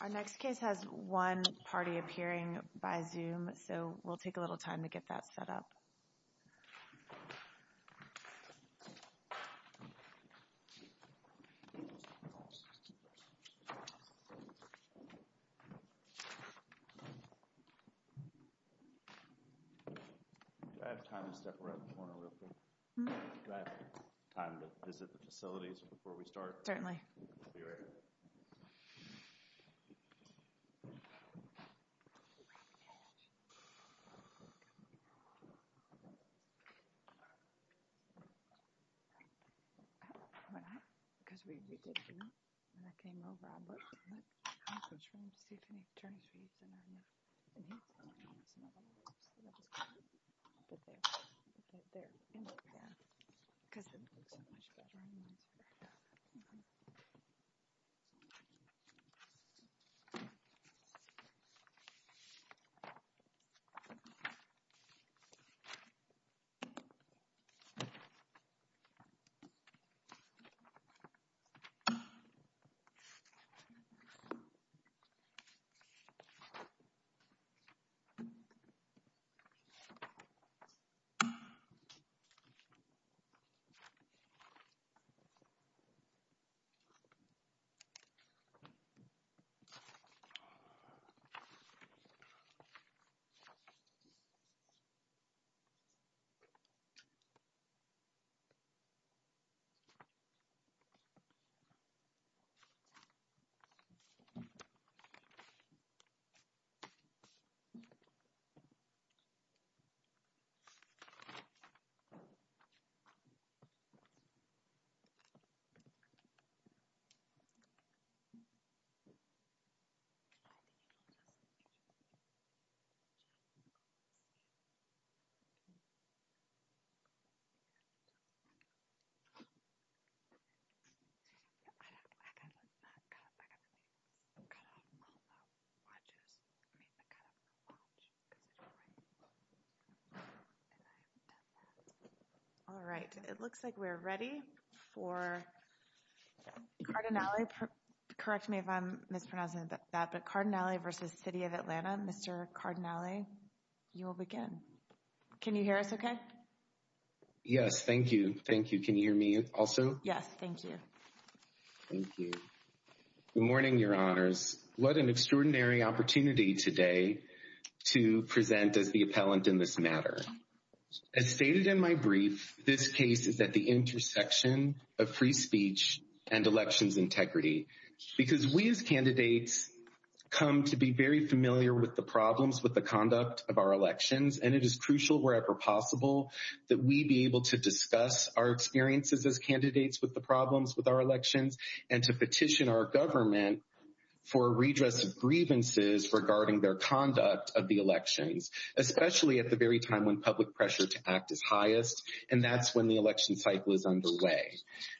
Our next case has one party appearing by Zoom, so we'll take a little time to get a little bit of time to step around the corner real quick, do I have time to visit the facilities before we start? Certainly. Cardinale, correct me if I'm mispronouncing that, but Cardinale v. City of Atlanta, Mr. Cardinale, you will begin. Can you hear us okay? Yes, thank you, thank you. Can you hear me also? Yes, thank you. Thank you. Good morning, your honors. What an extraordinary opportunity today to present as the appellant in this matter. As stated in my brief, this case is at the intersection of free speech and elections integrity. Because we as candidates come to be very familiar with the problems with the conduct of our elections, and it is crucial wherever possible that we be able to discuss our experiences as candidates with the problems with our elections and to petition our government for a redress of grievances regarding their conduct of the elections, especially at the very time when public pressure to act is highest, and that's when the election cycle is underway.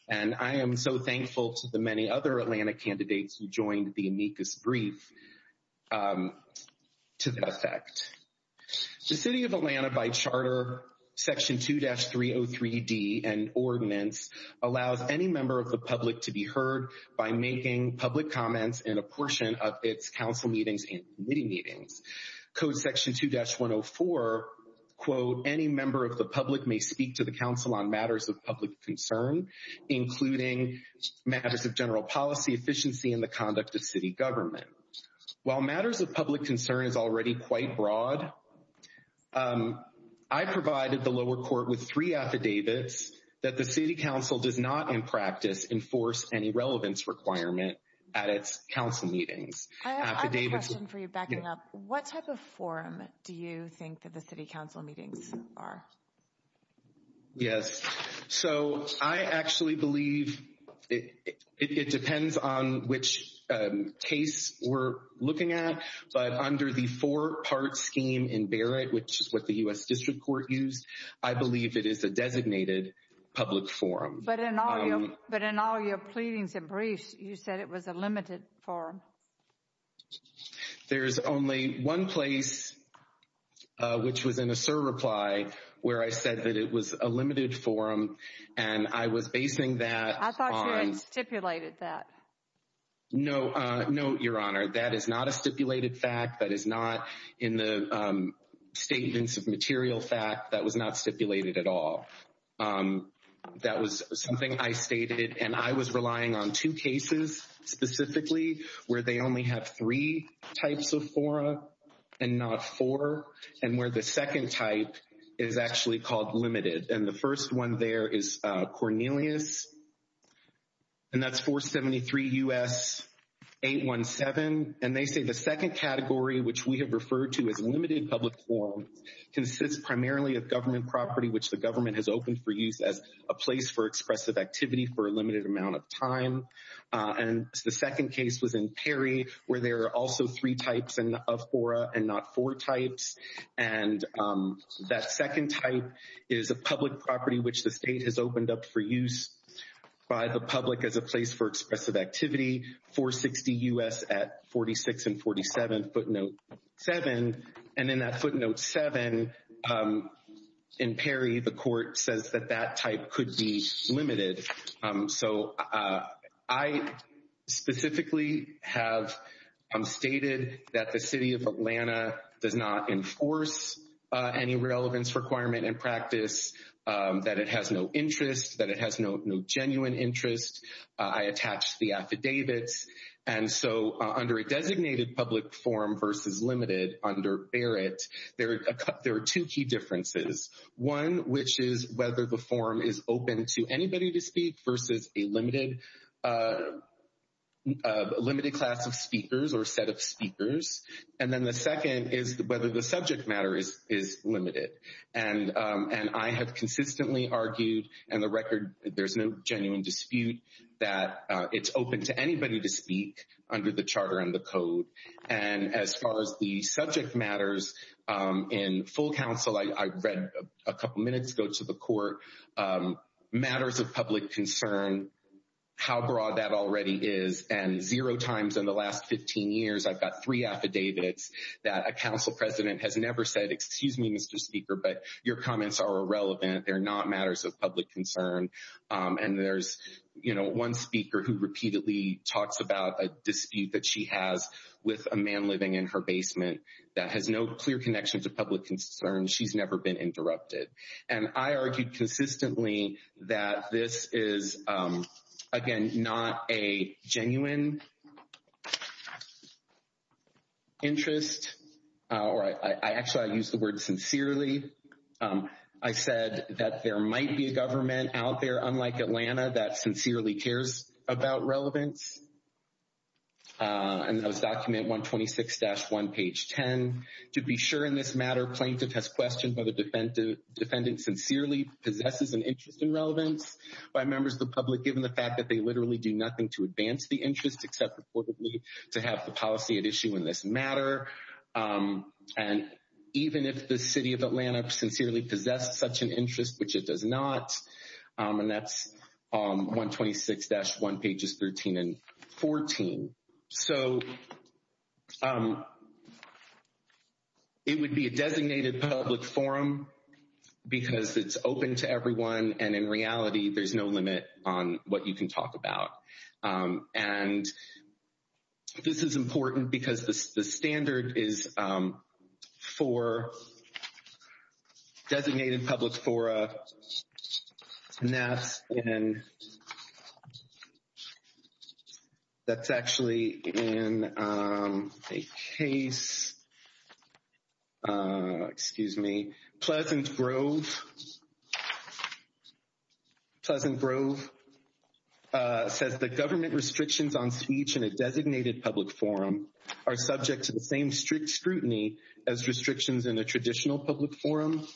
And I am so thankful to the many other Atlanta candidates who joined the amicus brief to that effect. The City of Atlanta by Charter Section 2-303D and ordinance allows any member of the public to be heard by making public comments in a portion of its council meetings and committee meetings. Code Section 2-104, quote, any member of the public may speak to the council on matters of public concern, including matters of general policy efficiency and the conduct of city government. While matters of public concern is already quite broad, I provided the lower court with three affidavits that the city council does not in practice enforce any relevance requirement at its council meetings. I have a question for you, backing up. What type of forum do you think that the city council meetings are? Yes. So I actually believe it depends on which case we're looking at. But under the four-part scheme in Barrett, which is what the U.S. District Court used, I believe it is a designated public forum. But in all your pleadings and briefs, you said it was a limited forum. There's only one place, which was in a SIR reply, where I said that it was a limited forum. And I was basing that on... I thought you had stipulated that. No, no, Your Honor. That is not a stipulated fact. That is not in the statements of material fact. That was not stipulated at all. That was something I stated, and I was relying on two cases specifically, where they only have three types of forum and not four, and where the second type is actually called limited. And the first one there is Cornelius, and that's 473 U.S. 817. And they say the second category, which we have referred to as limited public forum, consists primarily of government property, which the government has opened for use as a place for expressive activity for a limited amount of time. And the second case was in Perry, where there are also three types of fora and not four types. And that second type is a public property, which the state has opened up for use by the public as a place for expressive activity, 460 U.S. at 46 and 47, footnote 7. And in that footnote 7, in Perry, the court says that that type could be limited. So I specifically have stated that the city of Atlanta does not enforce any relevance requirement and practice, that it has no interest, that it has no genuine interest. I attached the affidavits. And so under a designated public forum versus limited under Barrett, there are two key differences. One, which is whether the forum is open to anybody to speak versus a limited class of speakers or set of speakers. And then the second is whether the subject matter is limited. And I have consistently argued and the record, there's no genuine dispute that it's open to anybody to speak under the charter and the code. And as far as the subject matters in full counsel, I read a couple minutes ago to the court matters of public concern, how broad that already is. And zero times in the last 15 years, I've got three affidavits that a council president has never said. Excuse me, Mr. Speaker, but your comments are irrelevant. They're not matters of public concern. And there's one speaker who repeatedly talks about a dispute that she has with a man living in her basement that has no clear connection to public concern. She's never been interrupted. And I argued consistently that this is, again, not a genuine interest. All right. I actually use the word sincerely. I said that there might be a government out there, unlike Atlanta, that sincerely cares about relevance. And that was document 126-1, page 10. To be sure in this matter, plaintiff has questioned whether defendant sincerely possesses an interest in relevance by members of the public, given the fact that they literally do nothing to advance the interest except reportedly to have the policy at issue in this matter. And even if the city of Atlanta sincerely possessed such an interest, which it does not, and that's 126-1, pages 13 and 14. So it would be a designated public forum because it's open to everyone. And in reality, there's no limit on what you can talk about. And this is important because the standard is for designated public forum. And that's in, that's actually in a case, excuse me, Pleasant Grove. Pleasant Grove says the government restrictions on speech in a designated public forum are subject to the same strict scrutiny as restrictions in a traditional public forum.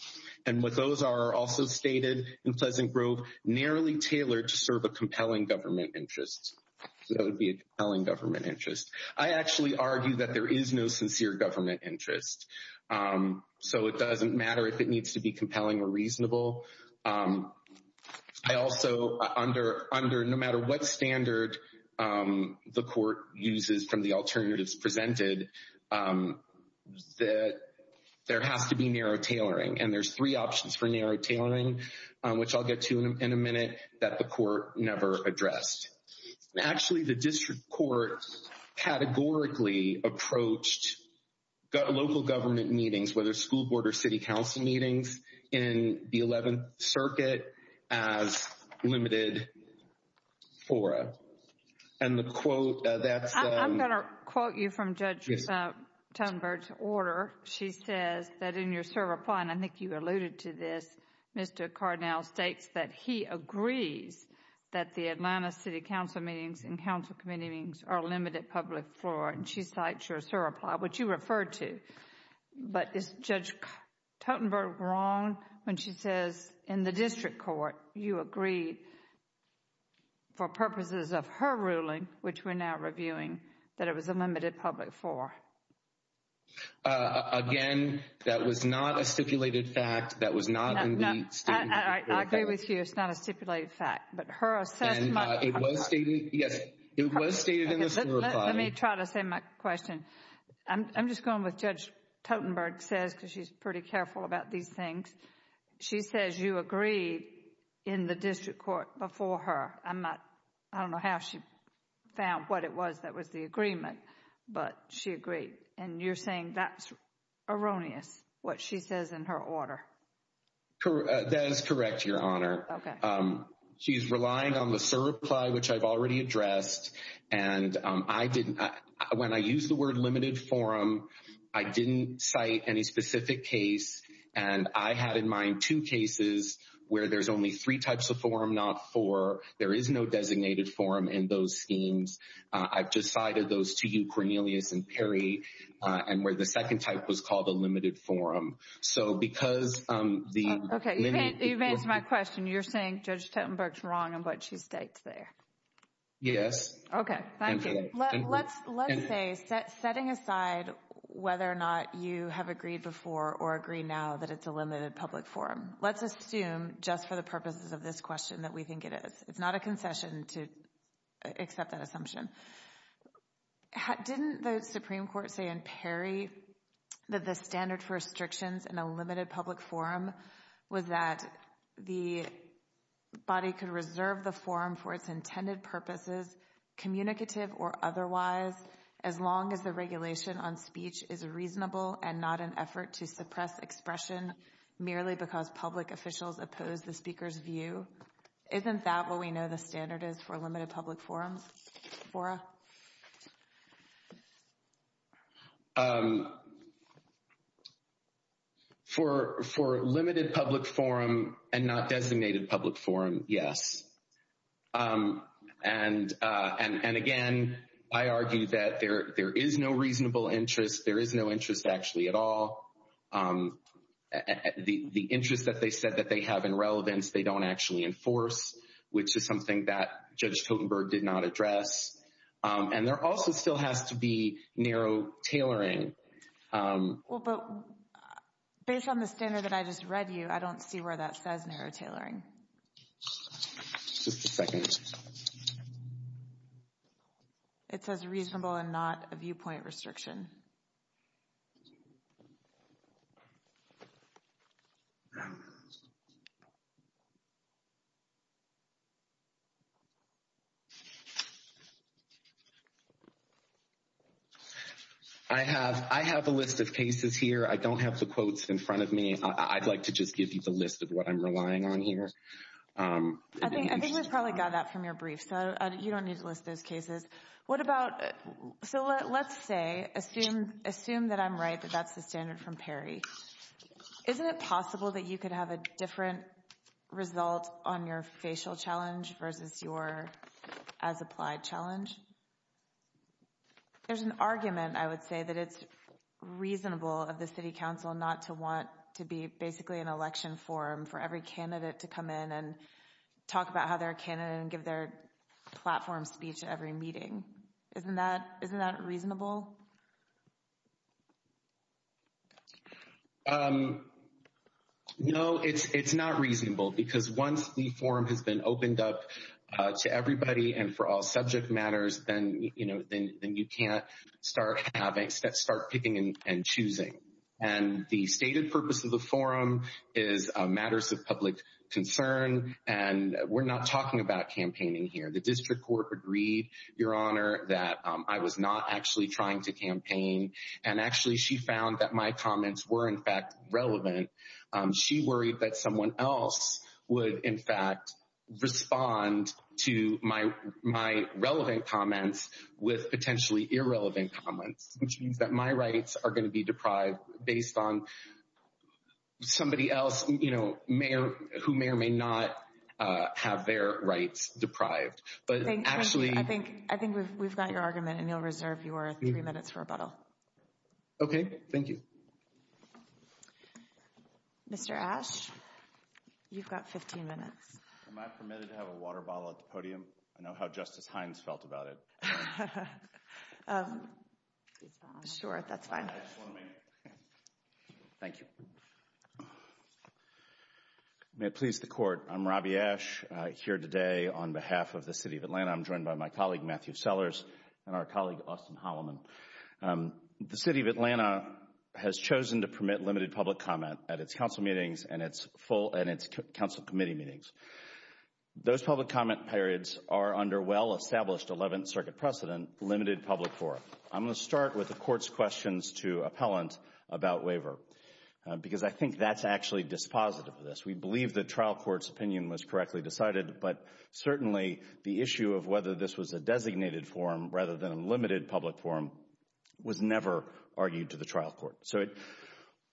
And what those are also stated in Pleasant Grove, narrowly tailored to serve a compelling government interest. So that would be a compelling government interest. I actually argue that there is no sincere government interest. So it doesn't matter if it needs to be compelling or reasonable. I also, under no matter what standard the court uses from the alternatives presented, that there has to be narrow tailoring. And there's three options for narrow tailoring, which I'll get to in a minute, that the court never addressed. Actually, the district court categorically approached local government meetings, whether school board or city council meetings, in the 11th Circuit as limited fora. And the quote, that's... I'm going to quote you from Judge Thunberg's order. She says that in your surrepli, and I think you alluded to this, Mr. Carnell states that he agrees that the Atlanta City Council meetings and council committee meetings are limited public fora. And she cites your surrepli, which you referred to. But is Judge Thunberg wrong when she says in the district court you agree, for purposes of her ruling, which we're now reviewing, that it was a limited public fora? Again, that was not a stipulated fact. That was not in the statement. I agree with you. It's not a stipulated fact. But her assessment... Yes, it was stated in the surrepli. Let me try to say my question. I'm just going with what Judge Thunberg says because she's pretty careful about these things. She says you agreed in the district court before her. I don't know how she found what it was that was the agreement, but she agreed. And you're saying that's erroneous, what she says in her order. That is correct, Your Honor. She's relying on the surrepli, which I've already addressed. And when I use the word limited forum, I didn't cite any specific case. And I had in mind two cases where there's only three types of forum, not four. There is no designated forum in those schemes. I've just cited those to you, Cornelius and Perry, and where the second type was called a limited forum. So because the... Okay, you've answered my question. You're saying Judge Thunberg's wrong in what she states there. Yes. Okay, thank you. Let's say, setting aside whether or not you have agreed before or agree now that it's a limited public forum, let's assume just for the purposes of this question that we think it is. It's not a concession to accept that assumption. Didn't the Supreme Court say in Perry that the standard for restrictions in a limited public forum was that the body could reserve the forum for its intended purposes, communicative or otherwise, as long as the regulation on speech is reasonable and not an effort to suppress expression merely because public officials oppose the speaker's view? Isn't that what we know the standard is for limited public forums, Fora? For limited public forum and not designated public forum, yes. And again, I argue that there is no reasonable interest. There is no interest actually at all. The interest that they said that they have in relevance they don't actually enforce, which is something that Judge Totenberg did not address. And there also still has to be narrow tailoring. Well, but based on the standard that I just read you, I don't see where that says narrow tailoring. Just a second. It says reasonable and not a viewpoint restriction. I have a list of cases here. I don't have the quotes in front of me. I'd like to just give you the list of what I'm relying on here. I think we've probably got that from your brief. So you don't need to list those cases. What about, so let's say, assume that I'm right that that's the standard from Perry. Isn't it possible that you could have a different result on your facial challenge versus your as applied challenge? There's an argument, I would say, that it's reasonable of the city council not to want to be basically an election forum for every candidate to come in and talk about how they're a candidate and give their platform speech at every meeting. Isn't that reasonable? No, it's not reasonable because once the forum has been opened up to everybody and for all subject matters, then you can't start picking and choosing. And the stated purpose of the forum is matters of public concern. And we're not talking about campaigning here. The district court agreed, Your Honor, that I was not actually trying to campaign. And actually, she found that my comments were, in fact, relevant. She worried that someone else would, in fact, respond to my relevant comments with potentially irrelevant comments, which means that my rights are going to be deprived based on somebody else who may or may not have their rights deprived. I think we've got your argument and you'll reserve your three minutes for rebuttal. Okay, thank you. Mr. Ash, you've got 15 minutes. Am I permitted to have a water bottle at the podium? I know how Justice Hines felt about it. Sure, that's fine. Thank you. May it please the Court, I'm Robbie Ash here today on behalf of the City of Atlanta. I'm joined by my colleague, Matthew Sellers, and our colleague, Austin Holloman. The City of Atlanta has chosen to permit limited public comment at its council meetings and its full council committee meetings. Those public comment periods are under well-established Eleventh Circuit precedent, limited public forum. I'm going to start with the Court's questions to appellant about waiver, because I think that's actually dispositive of this. We believe the trial court's opinion was correctly decided, but certainly the issue of whether this was a designated forum rather than a limited public forum was never argued to the trial court. So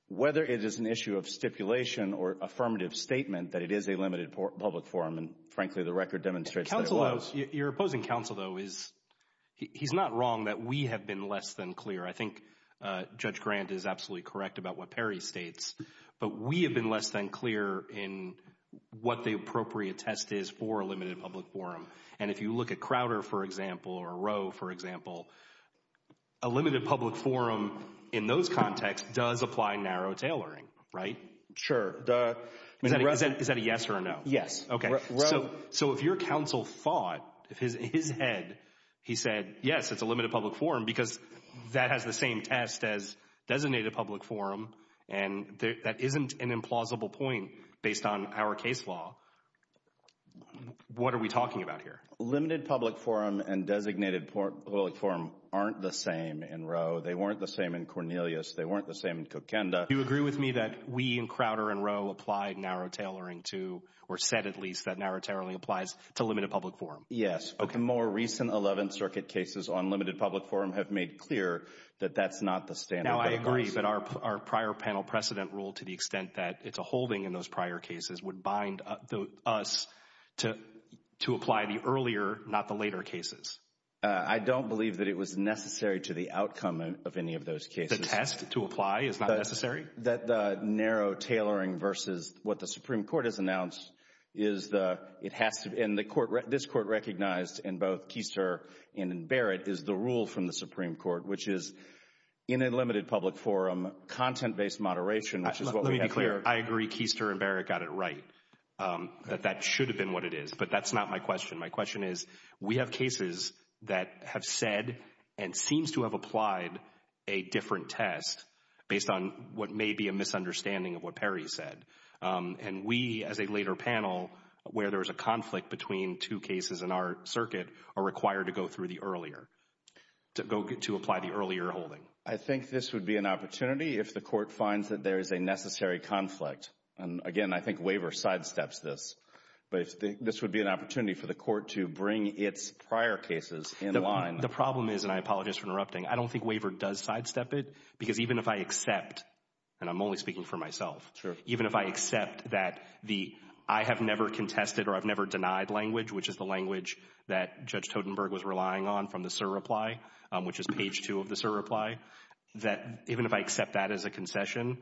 whether it is an issue of stipulation or affirmative statement that it is a limited public forum, and frankly, the record demonstrates that it was. Your opposing counsel, though, he's not wrong that we have been less than clear. I think Judge Grant is absolutely correct about what Perry states, but we have been less than clear in what the appropriate test is for a limited public forum. And if you look at Crowder, for example, or Roe, for example, a limited public forum in those contexts does apply narrow tailoring, right? Sure. Is that a yes or a no? Yes. Okay. So if your counsel thought, in his head, he said, yes, it's a limited public forum because that has the same test as designated public forum, and that isn't an implausible point based on our case law, what are we talking about here? Limited public forum and designated public forum aren't the same in Roe. They weren't the same in Cornelius. They weren't the same in Kokenda. Do you agree with me that we in Crowder and Roe applied narrow tailoring to, or said at least, that narrow tailoring applies to limited public forum? Yes. Okay. The more recent 11th Circuit cases on limited public forum have made clear that that's not the standard. Now, I agree, but our prior panel precedent rule to the extent that it's a holding in those prior cases would bind us to apply the earlier, not the later cases. I don't believe that it was necessary to the outcome of any of those cases. The test to apply is not necessary? That the narrow tailoring versus what the Supreme Court has announced is the – it has to – and the court – this court recognized in both Keister and Barrett is the rule from the Supreme Court, which is in a limited public forum, content-based moderation, which is what we have here. Let me be clear. I agree Keister and Barrett got it right, that that should have been what it is, but that's not my question. My question is, we have cases that have said and seems to have applied a different test based on what may be a misunderstanding of what Perry said. And we, as a later panel, where there was a conflict between two cases in our circuit, are required to go through the earlier – to apply the earlier holding. I think this would be an opportunity if the court finds that there is a necessary conflict. And again, I think Waiver sidesteps this. But this would be an opportunity for the court to bring its prior cases in line. The problem is – and I apologize for interrupting – I don't think Waiver does sidestep it because even if I accept – and I'm only speaking for myself. Sure. Even if I accept that the – I have never contested or I've never denied language, which is the language that Judge Totenberg was relying on from the surreply, which is page 2 of the surreply, that even if I accept that as a concession,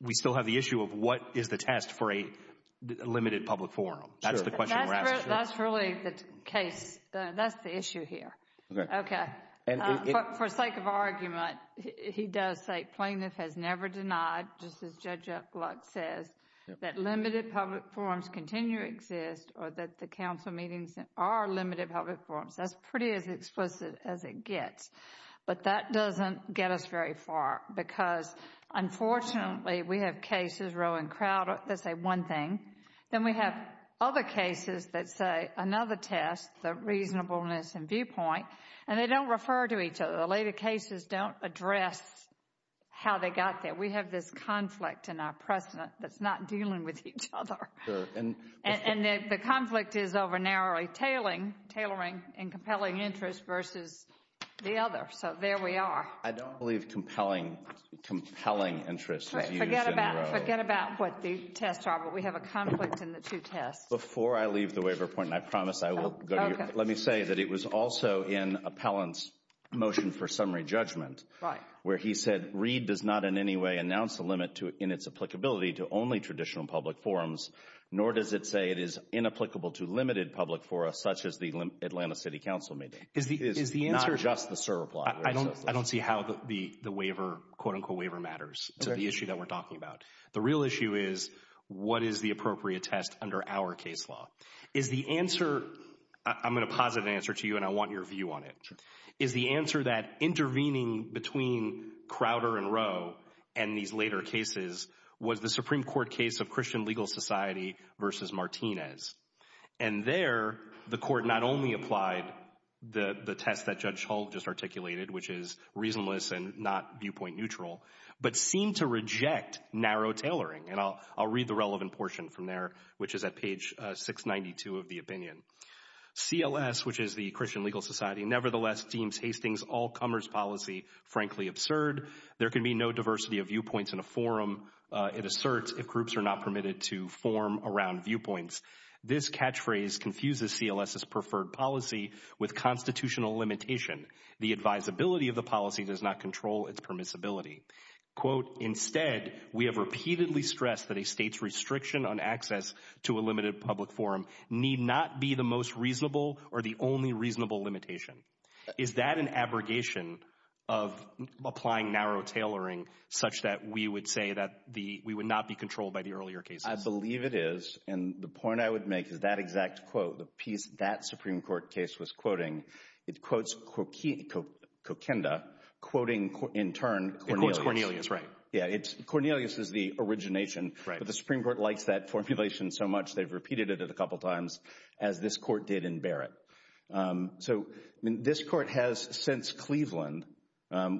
we still have the issue of what is the test for a limited public forum. Sure. That's the question we're asking. That's really the case. That's the issue here. Okay. Okay. For sake of argument, he does say plaintiff has never denied, just as Judge Gluck says, that limited public forums continue to exist or that the council meetings are limited public forums. That's pretty as explicit as it gets. But that doesn't get us very far because, unfortunately, we have cases, row and crowd, that say one thing. Then we have other cases that say another test, the reasonableness and viewpoint, and they don't refer to each other. The later cases don't address how they got there. We have this conflict in our precedent that's not dealing with each other. Sure. The conflict is over narrowly tailoring and compelling interest versus the other. So there we are. I don't believe compelling interest is used in row. Forget about what the tests are, but we have a conflict in the two tests. Before I leave the waiver point, and I promise I will go to you, let me say that it was also in Appellant's motion for summary judgment where he said, Read does not in any way announce a limit in its applicability to only traditional public forums, nor does it say it is inapplicable to limited public forums, such as the Atlanta City Council meeting. It's not just the CERA plot. I don't see how the waiver, quote unquote waiver, matters to the issue that we're talking about. The real issue is what is the appropriate test under our case law? Is the answer, I'm going to posit an answer to you and I want your view on it. Sure. Is the answer that intervening between Crowder and Rowe and these later cases was the Supreme Court case of Christian Legal Society versus Martinez. And there the court not only applied the test that Judge Hull just articulated, which is reasonableness and not viewpoint neutral, but seemed to reject narrow tailoring. And I'll read the relevant portion from there, which is at page 692 of the opinion. CLS, which is the Christian Legal Society, nevertheless deems Hastings' all comers policy frankly absurd. There can be no diversity of viewpoints in a forum, it asserts, if groups are not permitted to form around viewpoints. This catchphrase confuses CLS's preferred policy with constitutional limitation. The advisability of the policy does not control its permissibility. Quote, instead, we have repeatedly stressed that a state's restriction on access to a limited public forum need not be the most reasonable or the only reasonable limitation. Is that an abrogation of applying narrow tailoring such that we would say that we would not be controlled by the earlier cases? I believe it is. And the point I would make is that exact quote, the piece that Supreme Court case was quoting, it quotes Kokinda, quoting in turn Cornelius. It quotes Cornelius, right. Yeah, Cornelius is the origination. But the Supreme Court likes that formulation so much they've repeated it a couple times, as this court did in Barrett. So this court has since Cleveland,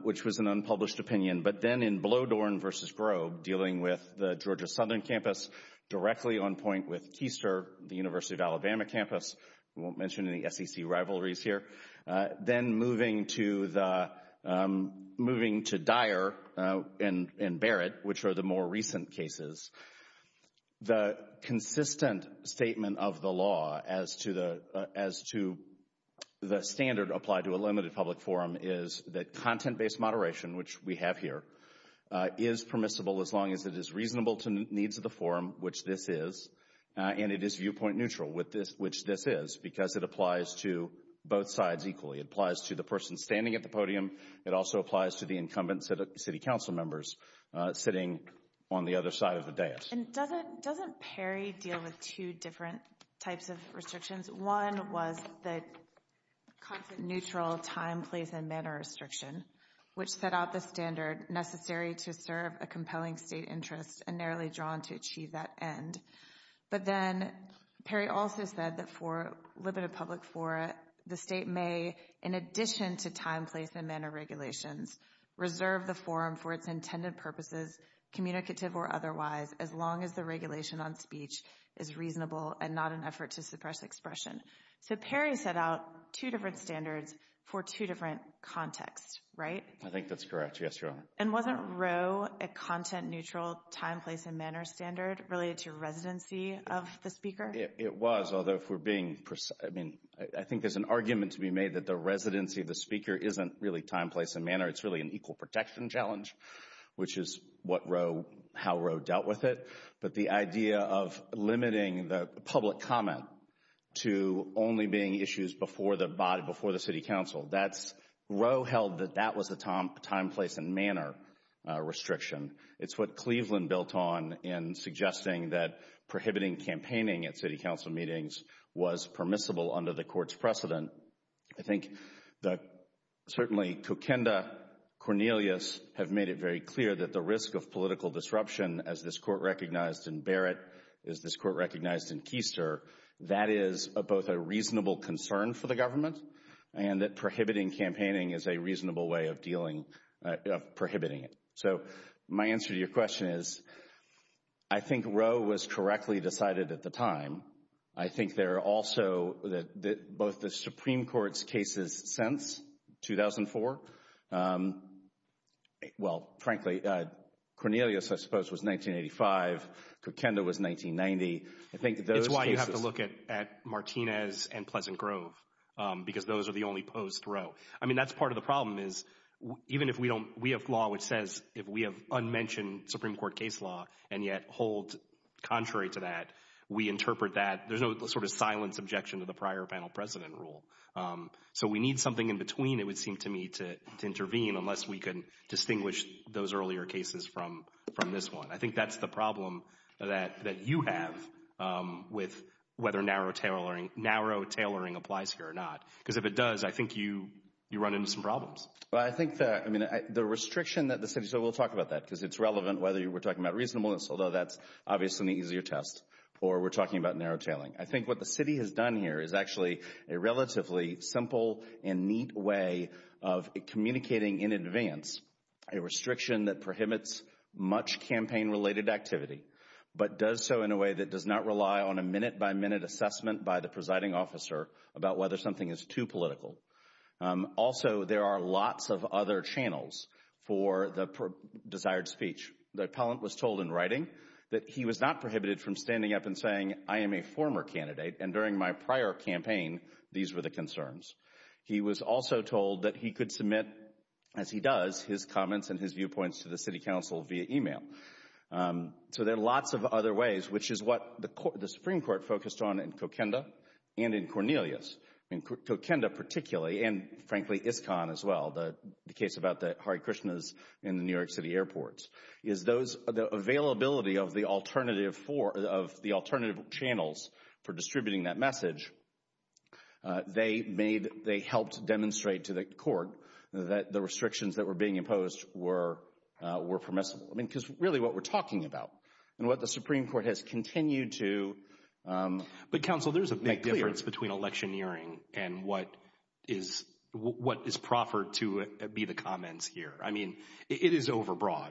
which was an unpublished opinion, but then in Blodorn v. Grobe, dealing with the Georgia Southern campus directly on point with Keister, the University of Alabama campus. We won't mention any SEC rivalries here. Then moving to Dyer and Barrett, which are the more recent cases. The consistent statement of the law as to the standard applied to a limited public forum is that content-based moderation, which we have here, is permissible as long as it is reasonable to needs of the forum, which this is, and it is viewpoint neutral, which this is, because it applies to both sides equally. It applies to the person standing at the podium. It also applies to the incumbent city council members sitting on the other side of the dais. And doesn't Perry deal with two different types of restrictions? One was the content-neutral time, place, and manner restriction, which set out the standard necessary to serve a compelling state interest and narrowly drawn to achieve that end. But then Perry also said that for a limited public forum, the state may, in addition to time, place, and manner regulations, reserve the forum for its intended purposes, communicative or otherwise, as long as the regulation on speech is reasonable and not an effort to suppress expression. So Perry set out two different standards for two different contexts, right? I think that's correct. Yes, Your Honor. And wasn't Roe a content-neutral time, place, and manner standard related to residency of the speaker? It was, although if we're being precise. I mean, I think there's an argument to be made that the residency of the speaker isn't really time, place, and manner. It's really an equal protection challenge, which is what Roe, how Roe dealt with it. But the idea of limiting the public comment to only being issues before the City Council, Roe held that that was the time, place, and manner restriction. It's what Cleveland built on in suggesting that prohibiting campaigning at City Council meetings was permissible under the Court's precedent. I think that certainly Kokenda, Cornelius have made it very clear that the risk of political disruption, as this Court recognized in Barrett, as this Court recognized in Keister, that is both a reasonable concern for the government, and that prohibiting campaigning is a reasonable way of dealing, of prohibiting it. So my answer to your question is I think Roe was correctly decided at the time. I think there are also both the Supreme Court's cases since 2004. Well, frankly, Cornelius, I suppose, was 1985. Kokenda was 1990. It's why you have to look at Martinez and Pleasant Grove, because those are the only posed Roe. I mean, that's part of the problem is even if we have law which says if we have unmentioned Supreme Court case law and yet hold contrary to that, we interpret that, there's no sort of silent subjection to the prior panel precedent rule. So we need something in between, it would seem to me, to intervene unless we can distinguish those earlier cases from this one. I think that's the problem that you have with whether narrow tailoring applies here or not, because if it does, I think you run into some problems. Well, I think the restriction that the city, so we'll talk about that because it's relevant whether we're talking about reasonableness, although that's obviously an easier test, or we're talking about narrow tailoring. I think what the city has done here is actually a relatively simple and neat way of communicating in advance a restriction that prohibits much campaign-related activity, but does so in a way that does not rely on a minute-by-minute assessment by the presiding officer about whether something is too political. Also, there are lots of other channels for the desired speech. The appellant was told in writing that he was not prohibited from standing up and saying, I am a former candidate, and during my prior campaign, these were the concerns. He was also told that he could submit, as he does, his comments and his viewpoints to the city council via email. So there are lots of other ways, which is what the Supreme Court focused on in Kokenda and in Cornelius. In Kokenda particularly, and frankly ISCON as well, the case about the Hare Krishnas in the New York City airports, is the availability of the alternative channels for distributing that message. They helped demonstrate to the court that the restrictions that were being imposed were permissible, because really what we're talking about and what the Supreme Court has continued to— What prohibits electioneering and what is proffered to be the comments here? I mean, it is overbroad.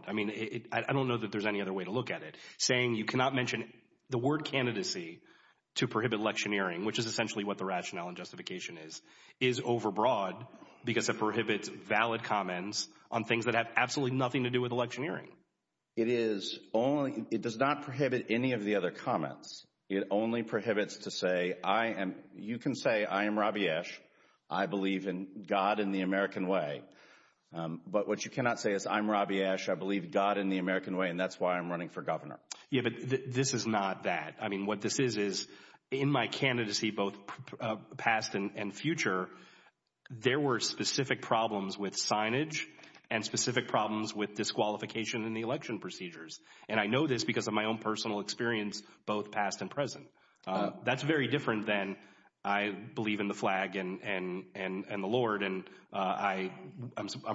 I don't know that there's any other way to look at it. Saying you cannot mention the word candidacy to prohibit electioneering, which is essentially what the rationale and justification is, is overbroad because it prohibits valid comments on things that have absolutely nothing to do with electioneering. It does not prohibit any of the other comments. It only prohibits to say, I am—you can say, I am Robbie Ash. I believe in God and the American way. But what you cannot say is, I'm Robbie Ash. I believe God and the American way, and that's why I'm running for governor. Yeah, but this is not that. I mean, what this is, is in my candidacy, both past and future, there were specific problems with signage and specific problems with disqualification in the election procedures. And I know this because of my own personal experience, both past and present. That's very different than, I believe in the flag and the Lord, and I'm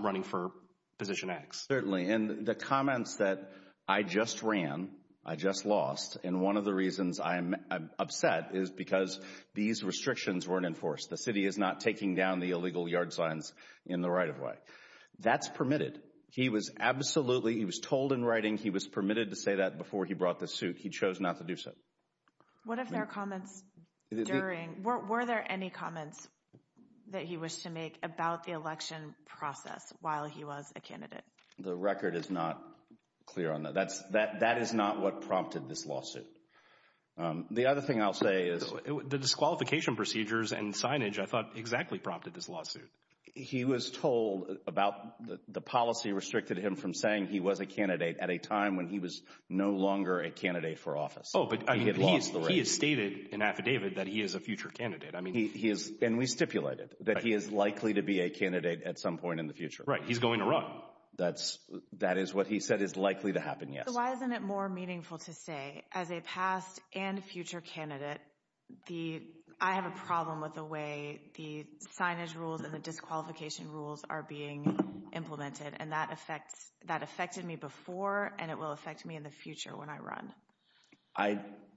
running for position X. Certainly, and the comments that I just ran, I just lost, and one of the reasons I'm upset is because these restrictions weren't enforced. The city is not taking down the illegal yard signs in the right-of-way. That's permitted. He was absolutely—he was told in writing he was permitted to say that before he brought the suit. He chose not to do so. What if there are comments during—were there any comments that he wished to make about the election process while he was a candidate? The record is not clear on that. That is not what prompted this lawsuit. The other thing I'll say is— The disqualification procedures and signage, I thought, exactly prompted this lawsuit. He was told about—the policy restricted him from saying he was a candidate at a time when he was no longer a candidate for office. Oh, but he has stated in an affidavit that he is a future candidate. And we stipulated that he is likely to be a candidate at some point in the future. Right. He's going to run. That is what he said is likely to happen, yes. So why isn't it more meaningful to say, as a past and future candidate, I have a problem with the way the signage rules and the disqualification rules are being implemented? And that affected me before, and it will affect me in the future when I run.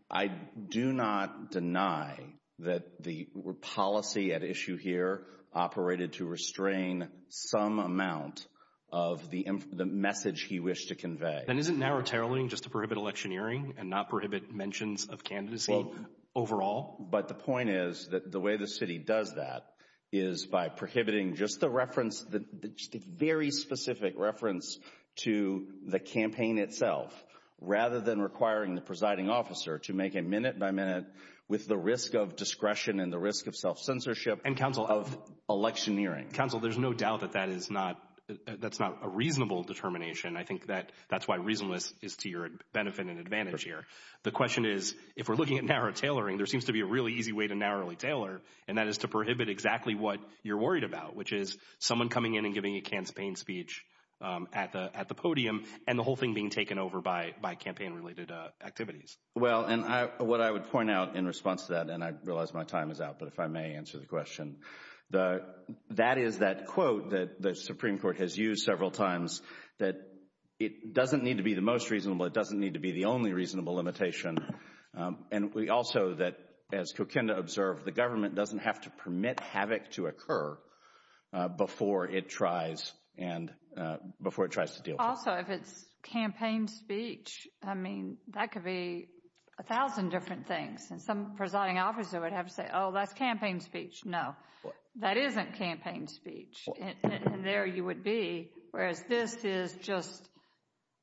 I do not deny that the policy at issue here operated to restrain some amount of the message he wished to convey. Then isn't narrow-tailing just to prohibit electioneering and not prohibit mentions of candidacy overall? But the point is that the way the city does that is by prohibiting just the very specific reference to the campaign itself, rather than requiring the presiding officer to make a minute-by-minute, with the risk of discretion and the risk of self-censorship, of electioneering. Council, there's no doubt that that's not a reasonable determination. I think that's why reasonableness is to your benefit and advantage here. The question is, if we're looking at narrow-tailoring, there seems to be a really easy way to narrowly tailor, and that is to prohibit exactly what you're worried about, which is someone coming in and giving a can-spain speech at the podium, and the whole thing being taken over by campaign-related activities. Well, and what I would point out in response to that, and I realize my time is out, but if I may answer the question. That is that quote that the Supreme Court has used several times, that it doesn't need to be the most reasonable, it doesn't need to be the only reasonable limitation, and also that, as Kokenda observed, the government doesn't have to permit havoc to occur before it tries to deal with it. Also, if it's campaign speech, I mean, that could be a thousand different things, and some presiding officer would have to say, oh, that's campaign speech. No, that isn't campaign speech, and there you would be, whereas this is just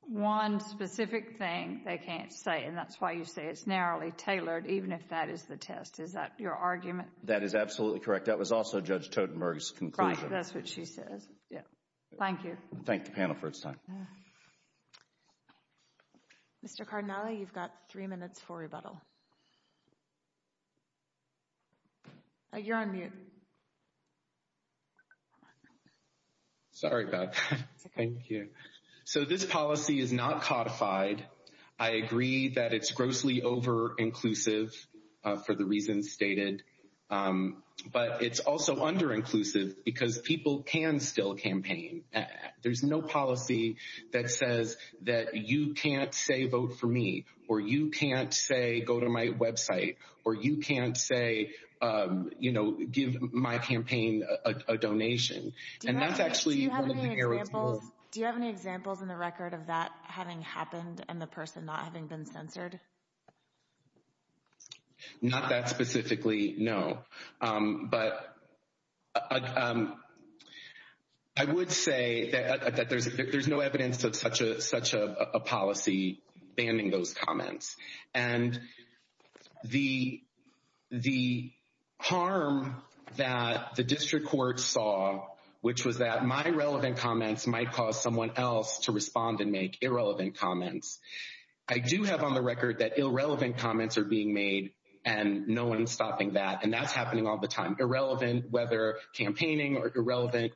one specific thing they can't say, and that's why you say it's narrowly tailored, even if that is the test. Is that your argument? That is absolutely correct. That was also Judge Totenberg's conclusion. Right, that's what she says. Thank you. Thank the panel for its time. Mr. Cardinale, you've got three minutes for rebuttal. You're on mute. Sorry about that. Thank you. So this policy is not codified. I agree that it's grossly over-inclusive for the reasons stated, but it's also under-inclusive because people can still campaign. There's no policy that says that you can't say, vote for me, or you can't say, go to my website, or you can't say, you know, give my campaign a donation. Do you have any examples in the record of that having happened and the person not having been censored? Not that specifically, no. But I would say that there's no evidence of such a policy banning those comments. And the harm that the district court saw, which was that my relevant comments might cause someone else to respond and make irrelevant comments, I do have on the record that irrelevant comments are being made and no one's stopping that, and that's happening all the time. Irrelevant whether campaigning or irrelevant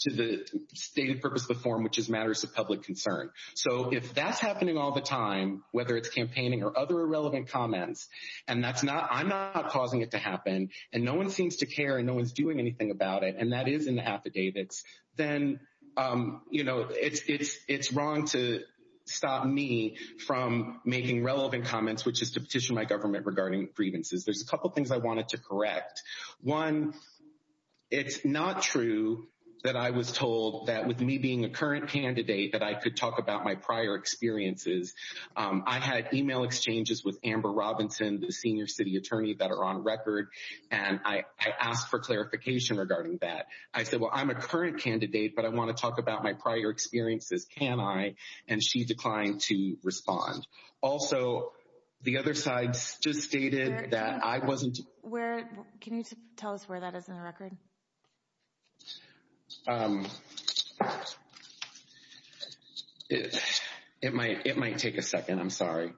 to the stated purpose of the form, which is matters of public concern. So if that's happening all the time, whether it's campaigning or other irrelevant comments, and I'm not causing it to happen, and no one seems to care and no one's doing anything about it, and that is an affidavits, then, you know, it's wrong to stop me from making relevant comments, which is to petition my government regarding grievances. There's a couple things I wanted to correct. One, it's not true that I was told that with me being a current candidate that I could talk about my prior experiences. I had email exchanges with Amber Robinson, the senior city attorney that are on record, and I asked for clarification regarding that. I said, well, I'm a current candidate, but I want to talk about my prior experiences, can I? And she declined to respond. Also, the other side just stated that I wasn't. Where can you tell us where that is in the record? It might, it might take a second. I'm sorry.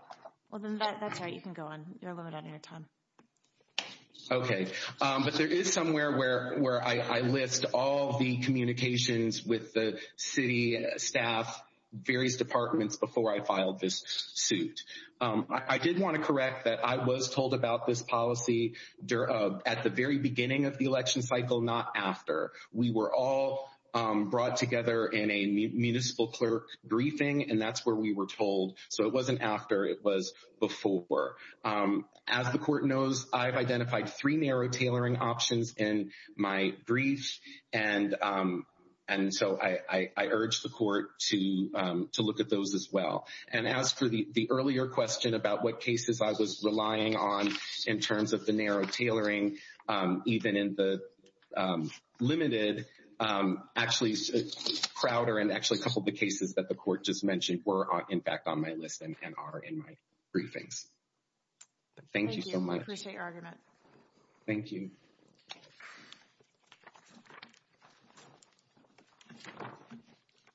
Well, that's right. You can go on. You're limited on your time. OK, but there is somewhere where where I list all the communications with the city staff, various departments before I filed this suit. I did want to correct that. I was told about this policy at the very beginning of the election cycle, not after we were all brought together in a municipal clerk briefing. And that's where we were told. So it wasn't after it was before. As the court knows, I've identified three narrow tailoring options in my brief. And and so I urge the court to to look at those as well. And as for the earlier question about what cases I was relying on in terms of the narrow tailoring, even in the limited, actually Crowder and actually a couple of the cases that the court just mentioned were, in fact, on my list and are in my briefings. Thank you so much. Thank you.